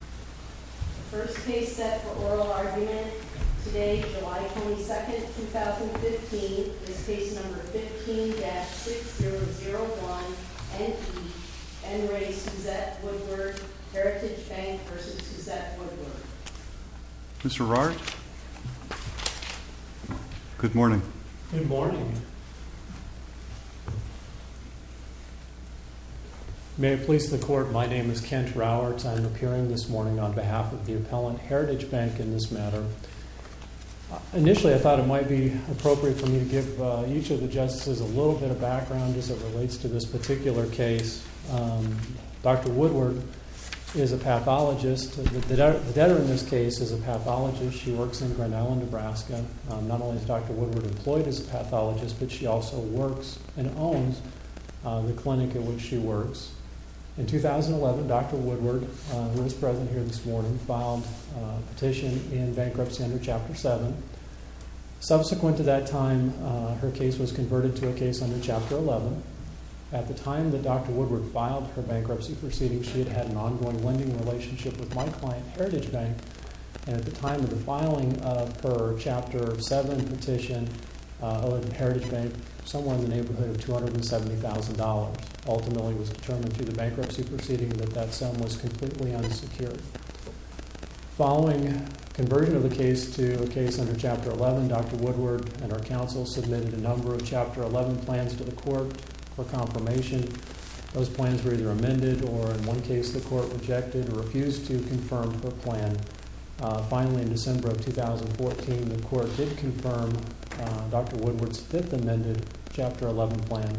The first case set for oral argument today, July 22, 2015, is Case No. 15-6001, N.E., N. Ray Suzette Woodward, Heritage Bank v. Suzette Woodward. Mr. Rourke? Good morning. Good morning. May it please the Court, my name is Kent Rourke. I am appearing this morning on behalf of the appellant, Heritage Bank, in this matter. Initially, I thought it might be appropriate for me to give each of the justices a little bit of background as it relates to this particular case. Dr. Woodward is a pathologist. The debtor in this case is a pathologist. She works in Grinnell, Nebraska. Not only is Dr. Woodward employed as a pathologist, but she also works and owns the clinic in which she works. In 2011, Dr. Woodward, who is present here this morning, filed a petition in bankruptcy under Chapter 7. Subsequent to that time, her case was converted to a case under Chapter 11. At the time that Dr. Woodward filed her bankruptcy proceedings, she had had an ongoing lending relationship with my client, Heritage Bank. At the time of the filing of her Chapter 7 petition, Heritage Bank, somewhere in the neighborhood of $270,000. Ultimately, it was determined through the bankruptcy proceeding that that sum was completely unsecured. Following conversion of the case to a case under Chapter 11, Dr. Woodward and her counsel submitted a number of Chapter 11 plans to the Court for confirmation. Those plans were either amended or, in one case, the Court rejected or refused to confirm her plan. Finally, in December of 2014, the Court did confirm Dr. Woodward's fifth amended Chapter 11 plan,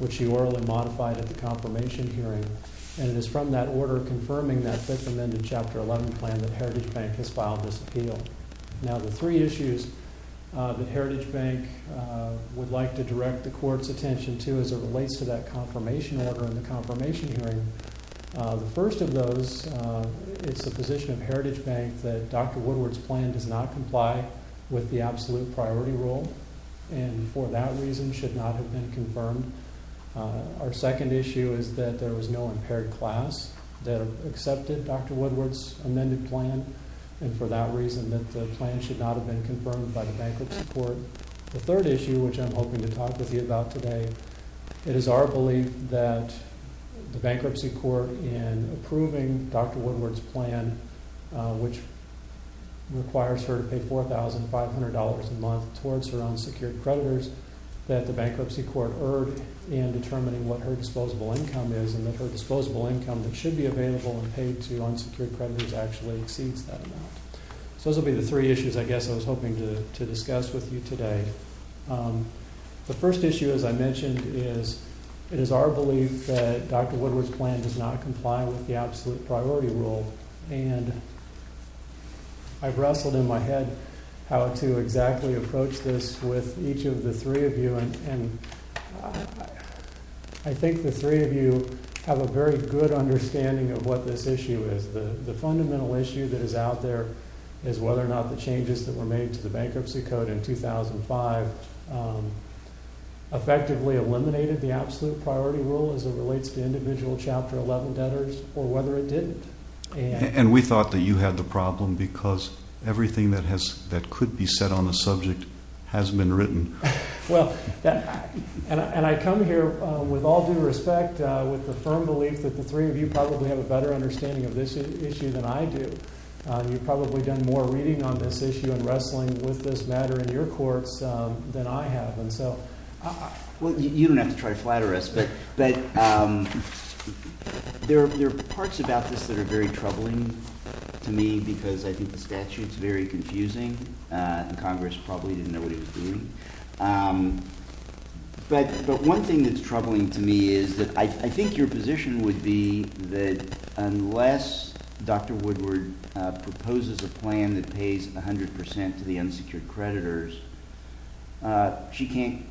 which she orally modified at the confirmation hearing. It is from that order confirming that fifth amended Chapter 11 plan that Heritage Bank has filed this appeal. Now, the three issues that Heritage Bank would like to direct the Court's attention to as it relates to that confirmation order and the confirmation hearing. The first of those, it's the position of Heritage Bank that Dr. Woodward's plan does not comply with the absolute priority rule and, for that reason, should not have been confirmed. Our second issue is that there was no impaired class that accepted Dr. Woodward's amended plan and, for that reason, that the plan should not have been confirmed by the Bankruptcy Court. The third issue, which I'm hoping to talk with you about today, it is our belief that the Bankruptcy Court, in approving Dr. Woodward's plan, which requires her to pay $4,500 a month towards her unsecured creditors, that the Bankruptcy Court erred in determining what her disposable income is and that her disposable income that should be available and paid to unsecured creditors actually exceeds that amount. So those will be the three issues, I guess, I was hoping to discuss with you today. The first issue, as I mentioned, is it is our belief that Dr. Woodward's plan does not comply with the absolute priority rule. And I've wrestled in my head how to exactly approach this with each of the three of you. And I think the three of you have a very good understanding of what this issue is. The fundamental issue that is out there is whether or not the changes that were made to the Bankruptcy Code in 2005 effectively eliminated the absolute priority rule as it relates to individual Chapter 11 debtors or whether it didn't. And we thought that you had the problem because everything that could be said on the subject has been written. Well, and I come here with all due respect, with the firm belief that the three of you probably have a better understanding of this issue than I do. You've probably done more reading on this issue and wrestling with this matter in your courts than I have. Well, you don't have to try to flatter us, but there are parts about this that are very troubling to me because I think the statute is very confusing. Congress probably didn't know what it was doing. But one thing that's troubling to me is that I think your position would be that unless Dr. Woodward proposes a plan that pays 100% to the unsecured creditors, she can't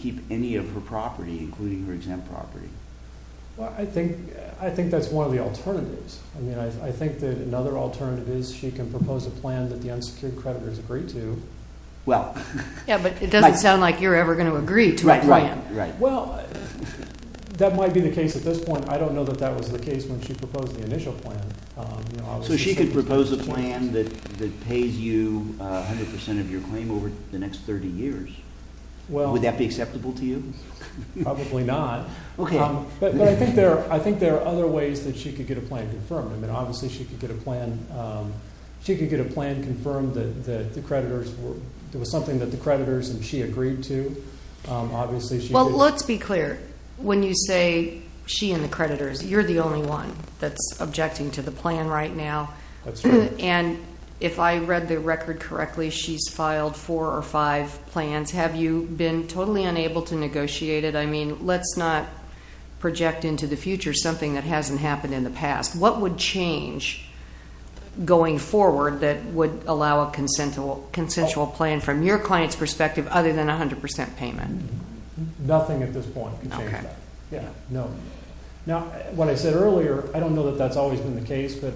keep any of her property, including her exempt property. Well, I think that's one of the alternatives. I mean, I think that another alternative is she can propose a plan that the unsecured creditors agree to. Yeah, but it doesn't sound like you're ever going to agree to a plan. Well, that might be the case at this point. I don't know that that was the case when she proposed the initial plan. So she could propose a plan that pays you 100% of your claim over the next 30 years. Would that be acceptable to you? Probably not. But I think there are other ways that she could get a plan confirmed. I mean, obviously she could get a plan confirmed that there was something that the creditors and she agreed to. Well, let's be clear. When you say she and the creditors, you're the only one that's objecting to the plan right now. That's right. And if I read the record correctly, she's filed four or five plans. Have you been totally unable to negotiate it? I mean, let's not project into the future something that hasn't happened in the past. What would change going forward that would allow a consensual plan from your client's perspective other than 100% payment? Nothing at this point can change that. Now, what I said earlier, I don't know that that's always been the case, but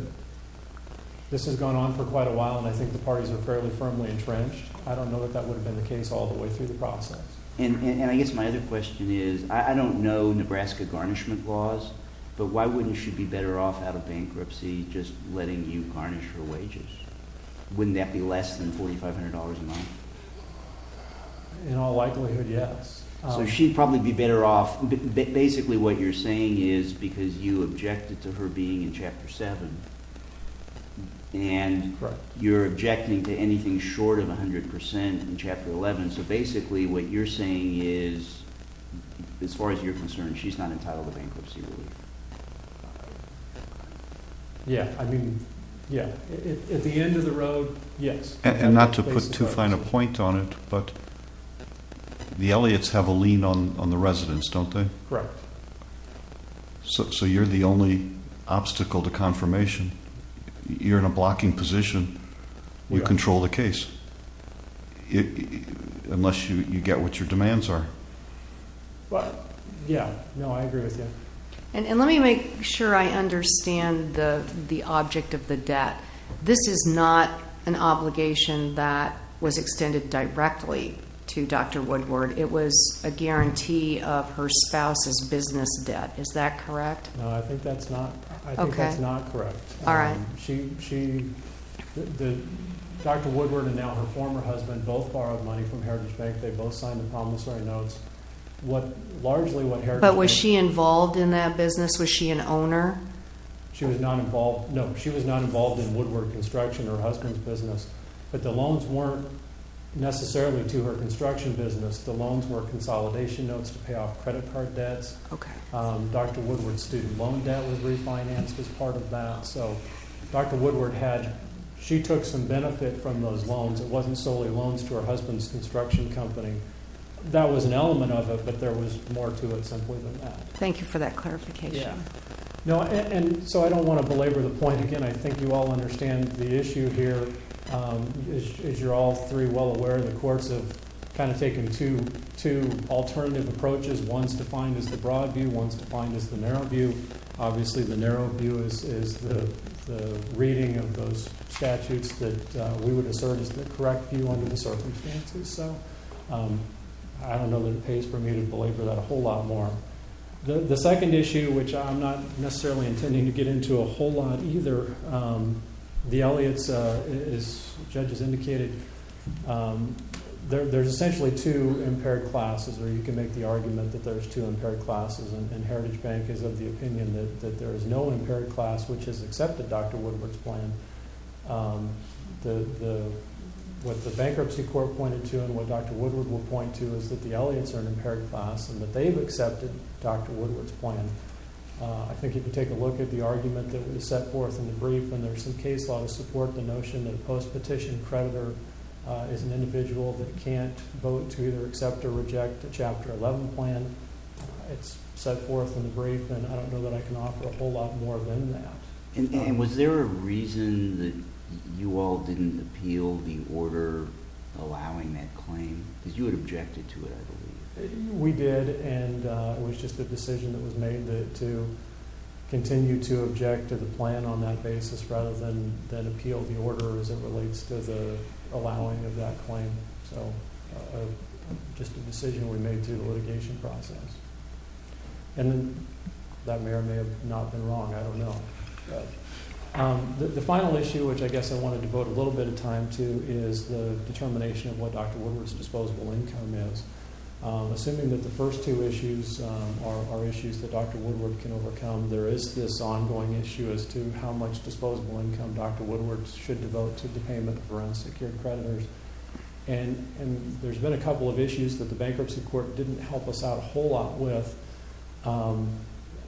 this has gone on for quite a while, and I think the parties are fairly firmly entrenched. I don't know that that would have been the case all the way through the process. And I guess my other question is, I don't know Nebraska garnishment laws, but why wouldn't she be better off out of bankruptcy just letting you garnish her wages? Wouldn't that be less than $4,500 a month? In all likelihood, yes. So she'd probably be better off. Basically what you're saying is because you objected to her being in Chapter 7, and you're objecting to anything short of 100% in Chapter 11. So basically what you're saying is, as far as you're concerned, she's not entitled to bankruptcy relief. Yeah, I mean, yeah. At the end of the road, yes. And not to put too fine a point on it, but the Elliotts have a lean on the residents, don't they? Correct. So you're the only obstacle to confirmation. You're in a blocking position. You control the case. Unless you get what your demands are. Yeah, no, I agree with you. And let me make sure I understand the object of the debt. This is not an obligation that was extended directly to Dr. Woodward. It was a guarantee of her spouse's business debt. Is that correct? No, I think that's not correct. All right. Dr. Woodward and now her former husband both borrowed money from Heritage Bank. They both signed the promissory notes. But was she involved in that business? Was she an owner? No, she was not involved in Woodward Construction, her husband's business. But the loans weren't necessarily to her construction business. The loans were consolidation notes to pay off credit card debts. Dr. Woodward's student loan debt was refinanced as part of that. So Dr. Woodward, she took some benefit from those loans. It wasn't solely loans to her husband's construction company. That was an element of it, but there was more to it simply than that. Thank you for that clarification. And so I don't want to belabor the point again. I think you all understand the issue here, as you're all three well aware, in the course of kind of taking two alternative approaches. One's defined as the broad view. One's defined as the narrow view. Obviously, the narrow view is the reading of those statutes that we would assert is the correct view under the circumstances. So I don't know that it pays for me to belabor that a whole lot more. The second issue, which I'm not necessarily intending to get into a whole lot either, the Elliotts, as judges indicated, there's essentially two impaired classes, or you can make the argument that there's two impaired classes, and Heritage Bank is of the opinion that there is no impaired class, which has accepted Dr. Woodward's plan. What the Bankruptcy Court pointed to and what Dr. Woodward will point to is that the Elliotts are an impaired class and that they've accepted Dr. Woodward's plan. I think if you take a look at the argument that was set forth in the brief, and there's some case law to support the notion that a post-petition creditor is an individual that can't vote to either accept or reject a Chapter 11 plan. It's set forth in the brief, and I don't know that I can offer a whole lot more than that. And was there a reason that you all didn't appeal the order allowing that claim? Because you had objected to it, I believe. We did, and it was just a decision that was made to continue to object to the plan on that basis rather than appeal the order as it relates to the allowing of that claim. So just a decision we made through the litigation process. And that may or may have not been wrong. I don't know. The final issue, which I guess I want to devote a little bit of time to, is the determination of what Dr. Woodward's disposable income is. Assuming that the first two issues are issues that Dr. Woodward can overcome, there is this ongoing issue as to how much disposable income Dr. Woodward should devote to the payment for unsecured creditors. And there's been a couple of issues that the bankruptcy court didn't help us out a whole lot with.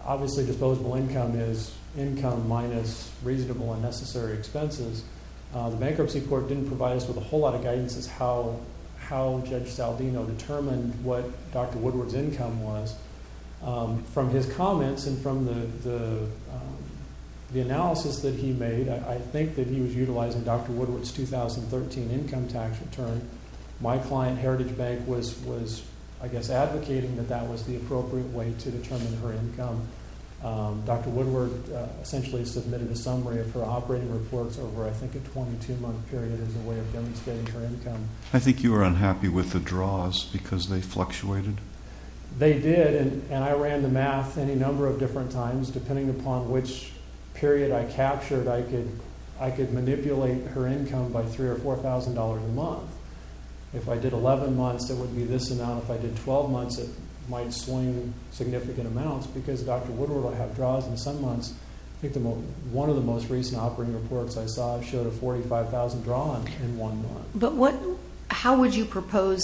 Obviously disposable income is income minus reasonable and necessary expenses. The bankruptcy court didn't provide us with a whole lot of guidance as how Judge Saldino determined what Dr. Woodward's income was. From his comments and from the analysis that he made, I think that he was utilizing Dr. Woodward's 2013 income tax return. My client, Heritage Bank, was, I guess, advocating that that was the appropriate way to determine her income. Dr. Woodward essentially submitted a summary of her operating reports over, I think, a 22-month period as a way of demonstrating her income. I think you were unhappy with the draws because they fluctuated. They did, and I ran the math any number of different times. Depending upon which period I captured, I could manipulate her income by $3,000 or $4,000 a month. If I did 11 months, it would be this amount. If I did 12 months, it might swing significant amounts because Dr. Woodward will have draws in some months. I think one of the most recent operating reports I saw showed a $45,000 draw in one month. But how would you propose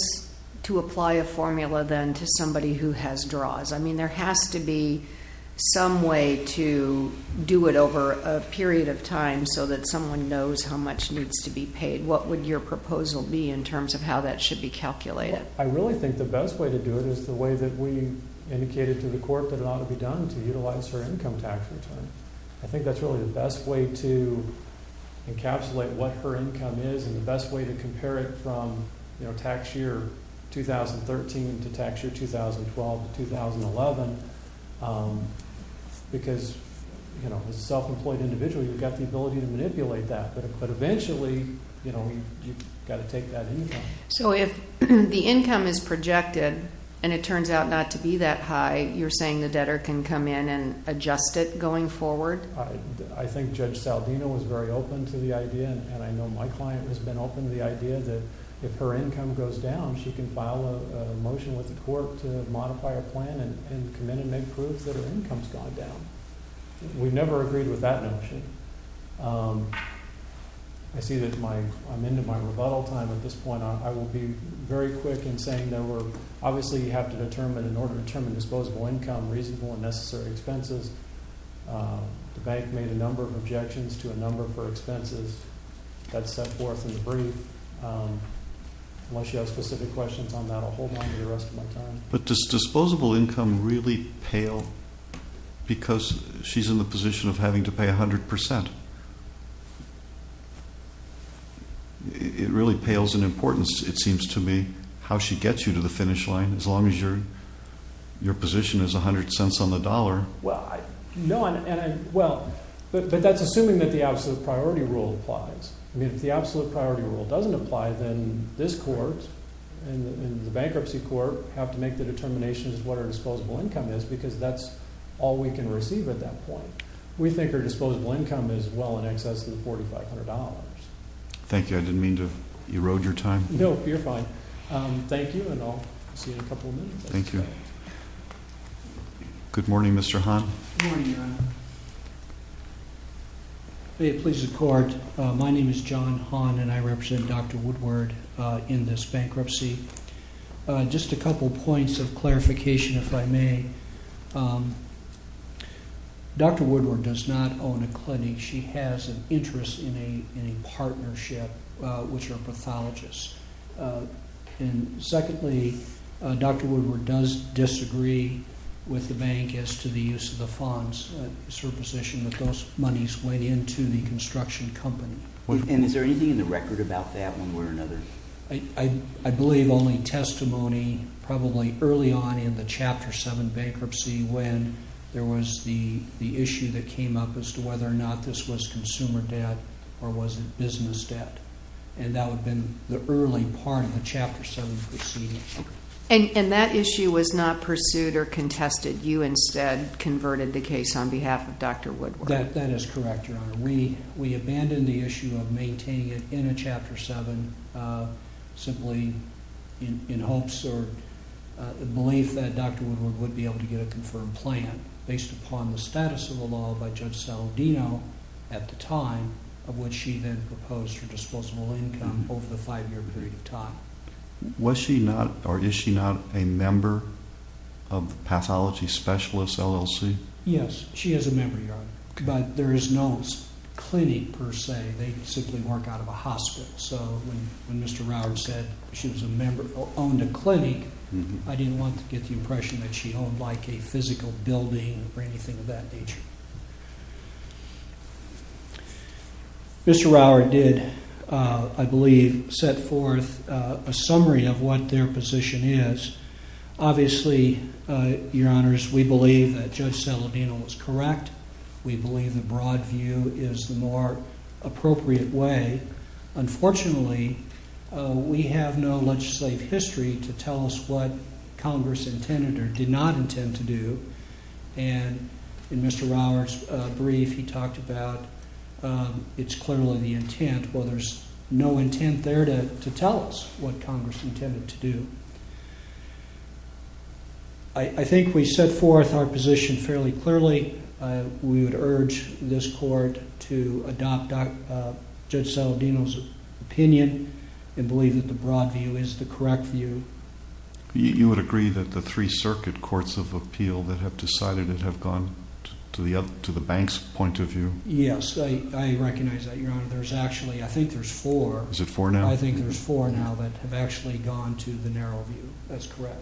to apply a formula then to somebody who has draws? I mean, there has to be some way to do it over a period of time so that someone knows how much needs to be paid. What would your proposal be in terms of how that should be calculated? I really think the best way to do it is the way that we indicated to the court that it ought to be done, to utilize her income tax return. I think that's really the best way to encapsulate what her income is and the best way to compare it from tax year 2013 to tax year 2012 to 2011. Because as a self-employed individual, you've got the ability to manipulate that. But eventually, you've got to take that income. So if the income is projected and it turns out not to be that high, you're saying the debtor can come in and adjust it going forward? I think Judge Saldino was very open to the idea, and I know my client has been open to the idea, that if her income goes down, she can file a motion with the court to modify her plan and come in and make proof that her income has gone down. We've never agreed with that notion. I see that I'm into my rebuttal time at this point. I will be very quick in saying that we obviously have to determine, in order to determine disposable income, reasonable and necessary expenses. The bank made a number of objections to a number of her expenses. That's set forth in the brief. Unless you have specific questions on that, I'll hold onto the rest of my time. But does disposable income really pale because she's in the position of having to pay 100%? It really pales in importance, it seems to me, how she gets you to the finish line. As long as your position is 100 cents on the dollar. But that's assuming that the absolute priority rule applies. If the absolute priority rule doesn't apply, then this court and the bankruptcy court have to make the determination as to what her disposable income is because that's all we can receive at that point. We think her disposable income is well in excess of $4,500. Thank you. I didn't mean to erode your time. No, you're fine. Thank you, and I'll see you in a couple of minutes. Thank you. Good morning, Mr. Hahn. Good morning, Your Honor. Please support. My name is John Hahn, and I represent Dr. Woodward in this bankruptcy. Just a couple points of clarification, if I may. Dr. Woodward does not own a clinic. She has an interest in a partnership with her pathologist. Secondly, Dr. Woodward does disagree with the bank as to the use of the funds. It's her position that those monies went into the construction company. Is there anything in the record about that one way or another? I believe only testimony probably early on in the Chapter 7 bankruptcy when there was the issue that came up as to whether or not this was consumer debt or was it business debt, and that would have been the early part of the Chapter 7. And that issue was not pursued or contested. You instead converted the case on behalf of Dr. Woodward. That is correct, Your Honor. We abandoned the issue of maintaining it in a Chapter 7 simply in hopes or belief that Dr. Woodward would be able to get a confirmed plan based upon the status of the law by Judge Saladino at the time of which she then proposed her disposable income over the five-year period of time. Was she not or is she not a member of the pathology specialist LLC? Yes, she is a member, Your Honor. But there is no clinic per se. They simply work out of a hospital. So when Mr. Rauer said she owned a clinic, I didn't want to get the impression that she owned like a physical building or anything of that nature. Mr. Rauer did, I believe, set forth a summary of what their position is. Obviously, Your Honors, we believe that Judge Saladino was correct. We believe the broad view is the more appropriate way. Unfortunately, we have no legislative history to tell us what Congress intended or did not intend to do. And in Mr. Rauer's brief, he talked about it's clearly the intent. Well, there's no intent there to tell us what Congress intended to do. I think we set forth our position fairly clearly. We would urge this court to adopt Judge Saladino's opinion and believe that the broad view is the correct view. You would agree that the three circuit courts of appeal that have decided it have gone to the bank's point of view? Yes, I recognize that, Your Honor. There's actually, I think there's four. Is it four now? I think there's four now that have actually gone to the narrow view. That's correct.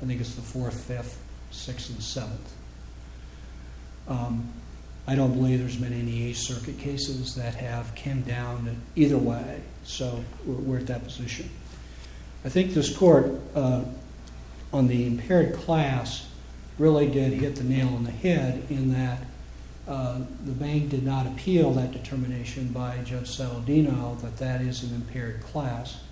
I think it's the 4th, 5th, 6th, and 7th. I don't believe there's been any circuit cases that have came down either way. So we're at that position. I think this court on the impaired class really did hit the nail on the head in that the bank did not appeal that determination by Judge Saladino that that is an impaired class.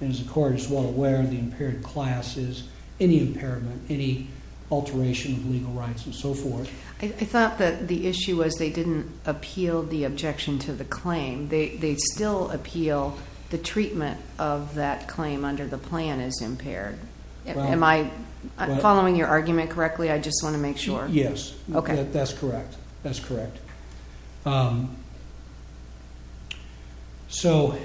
As the court is well aware, the impaired class is any impairment, any alteration of legal rights, and so forth. I thought that the issue was they didn't appeal the objection to the claim. They still appeal the treatment of that claim under the plan as impaired. Am I following your argument correctly? I just want to make sure. Yes. That's correct. That's correct. So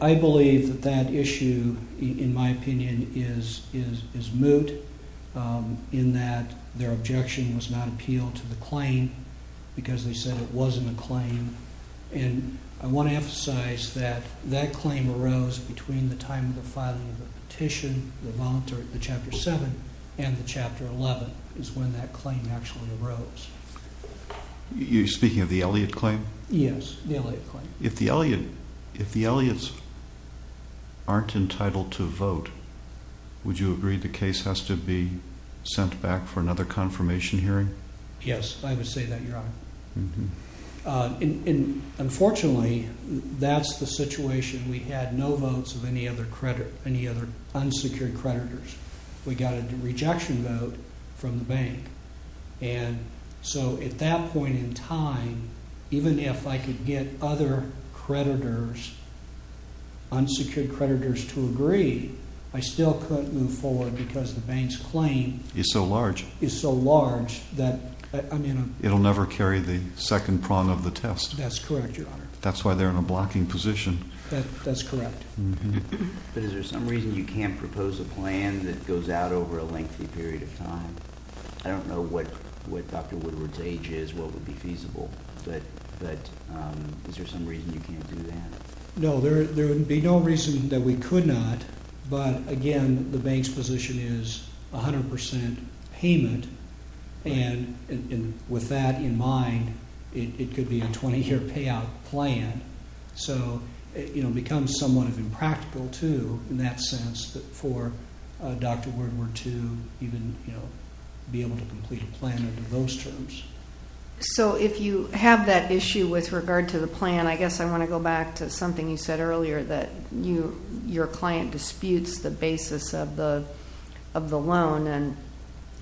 I believe that that issue, in my opinion, is moot in that their objection was not appealed to the claim because they said it wasn't a claim. And I want to emphasize that that claim arose between the time of the filing of the petition, the chapter 7, and the chapter 11 is when that claim actually arose. Are you speaking of the Elliott claim? Yes, the Elliott claim. If the Elliotts aren't entitled to vote, would you agree the case has to be sent back for another confirmation hearing? Yes, I would say that, Your Honor. Unfortunately, that's the situation. We had no votes of any other unsecured creditors. We got a rejection vote from the bank. And so at that point in time, even if I could get other creditors, unsecured creditors to agree, I still couldn't move forward because the bank's claim is so large that it will never carry the second prong of the test. That's correct, Your Honor. That's why they're in a blocking position. That's correct. But is there some reason you can't propose a plan that goes out over a lengthy period of time? I don't know what Dr. Woodward's age is, what would be feasible, but is there some reason you can't do that? No, there would be no reason that we could not, but, again, the bank's position is 100% payment, and with that in mind, it could be a 20-year payout plan. So it becomes somewhat impractical, too, in that sense, for Dr. Woodward to even be able to complete a plan under those terms. So if you have that issue with regard to the plan, I guess I want to go back to something you said earlier, that your client disputes the basis of the loan, and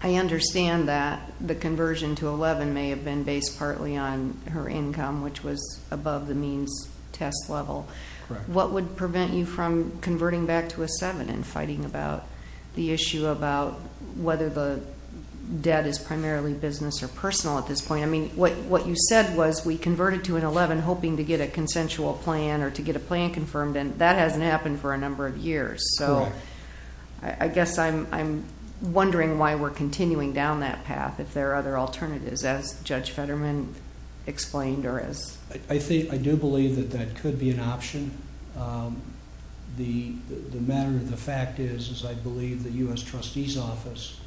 I understand that the conversion to 11 may have been based partly on her income, which was above the means test level. Correct. What would prevent you from converting back to a 7 and fighting about the issue about whether the debt is primarily business or personal at this point? I mean, what you said was we converted to an 11 hoping to get a consensual plan or to get a plan confirmed, and that hasn't happened for a number of years. Correct. So I guess I'm wondering why we're continuing down that path, if there are other alternatives, as Judge Fetterman explained. I do believe that that could be an option. The matter of the fact is I believe the U.S. Trustee's Office,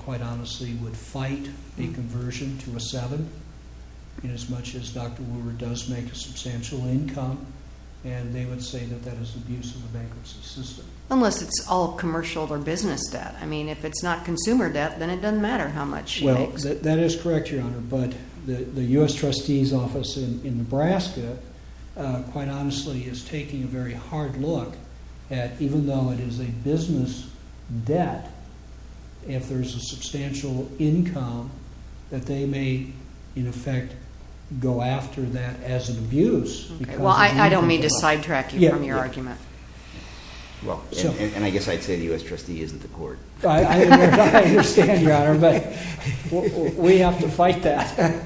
quite honestly, would fight a conversion to a 7 as much as Dr. Woodward does make a substantial income, and they would say that that is abuse of the bankruptcy system. Unless it's all commercial or business debt. I mean, if it's not consumer debt, then it doesn't matter how much she makes. Well, that is correct, Your Honor, but the U.S. Trustee's Office in Nebraska, quite honestly, is taking a very hard look at even though it is a business debt, if there's a substantial income, that they may, in effect, go after that as an abuse. Well, I don't mean to sidetrack you from your argument. And I guess I'd say the U.S. Trustee isn't the court. I understand, Your Honor, but we have to fight that.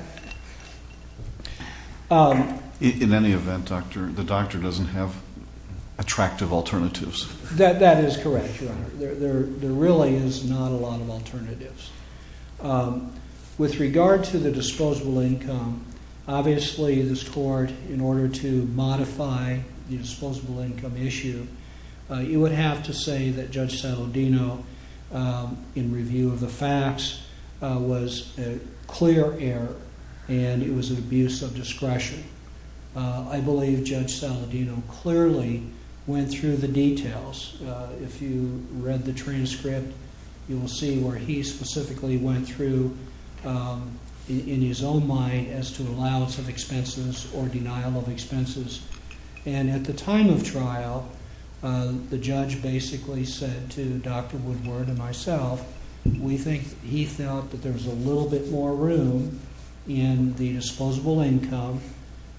In any event, Doctor, the doctor doesn't have attractive alternatives. That is correct, Your Honor. There really is not a lot of alternatives. With regard to the disposable income, obviously this court, in order to modify the disposable income issue, you would have to say that Judge Saladino, in review of the facts, was a clear error and it was an abuse of discretion. I believe Judge Saladino clearly went through the details. If you read the transcript, you will see where he specifically went through, in his own mind, as to allowance of expenses or denial of expenses. And at the time of trial, the judge basically said to Doctor Woodward and myself, we think he felt that there was a little bit more room in the disposable income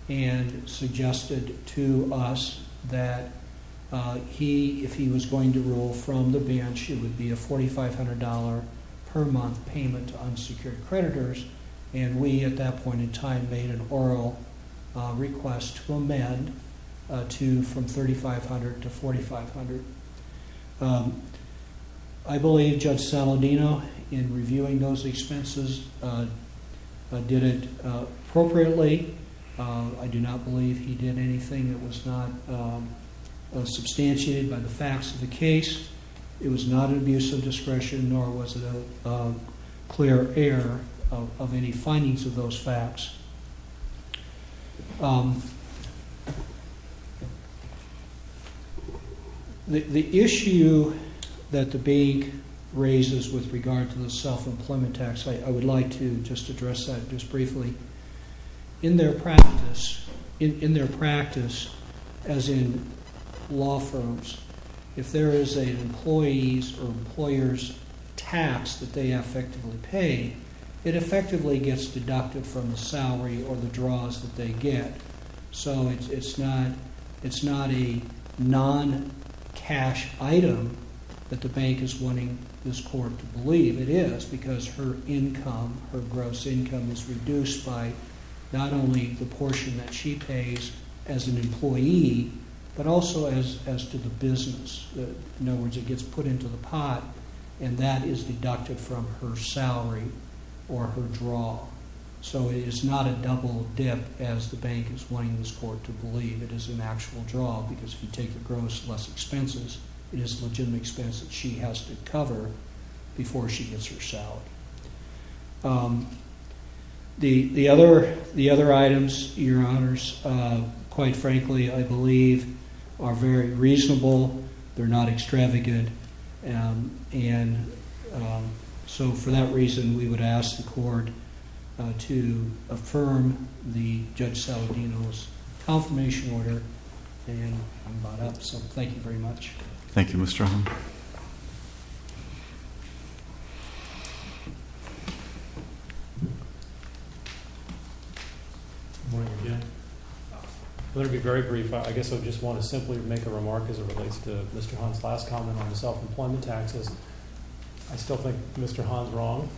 and suggested to us that if he was going to rule from the bench, it would be a $4,500 per month payment to unsecured creditors. And we, at that point in time, made an oral request to amend from $3,500 to $4,500. I believe Judge Saladino, in reviewing those expenses, did it appropriately. I do not believe he did anything that was not substantiated by the facts of the case. It was not an abuse of discretion nor was it a clear error of any findings of those facts. The issue that the bank raises with regard to the self-employment tax, I would like to just address that just briefly. In their practice, as in law firms, if there is an employee's or an employer's tax that they effectively pay, it effectively gets deducted from the salary or the draws that they get. So it's not a non-cash item that the bank is wanting this court to believe. It is because her gross income is reduced by not only the portion that she pays as an employee, but also as to the business. In other words, it gets put into the pot and that is deducted from her salary or her draw. So it is not a double dip as the bank is wanting this court to believe. It is an actual draw because if you take the gross, less expenses, it is a legitimate expense that she has to cover before she gets her salary. The other items, Your Honors, quite frankly, I believe are very reasonable. They are not extravagant. So for that reason, we would ask the court to affirm the Judge Saladino's confirmation order. Thank you very much. Thank you, Mr. O'Hanlon. Good morning again. I'm going to be very brief. I guess I just want to simply make a remark as it relates to Mr. Han's last comment on the self-employment taxes. I still think Mr. Han is wrong.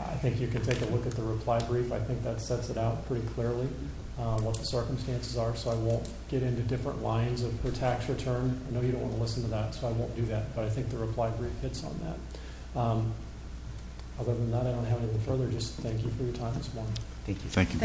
I think you can take a look at the reply brief. I think that sets it out pretty clearly what the circumstances are, so I won't get into different lines of her tax return. I know you don't want to listen to that, so I won't do that, but I think the reply brief hits on that. Other than that, I don't have anything further. Just thank you for your time this morning. Thank you. Thank you, folks.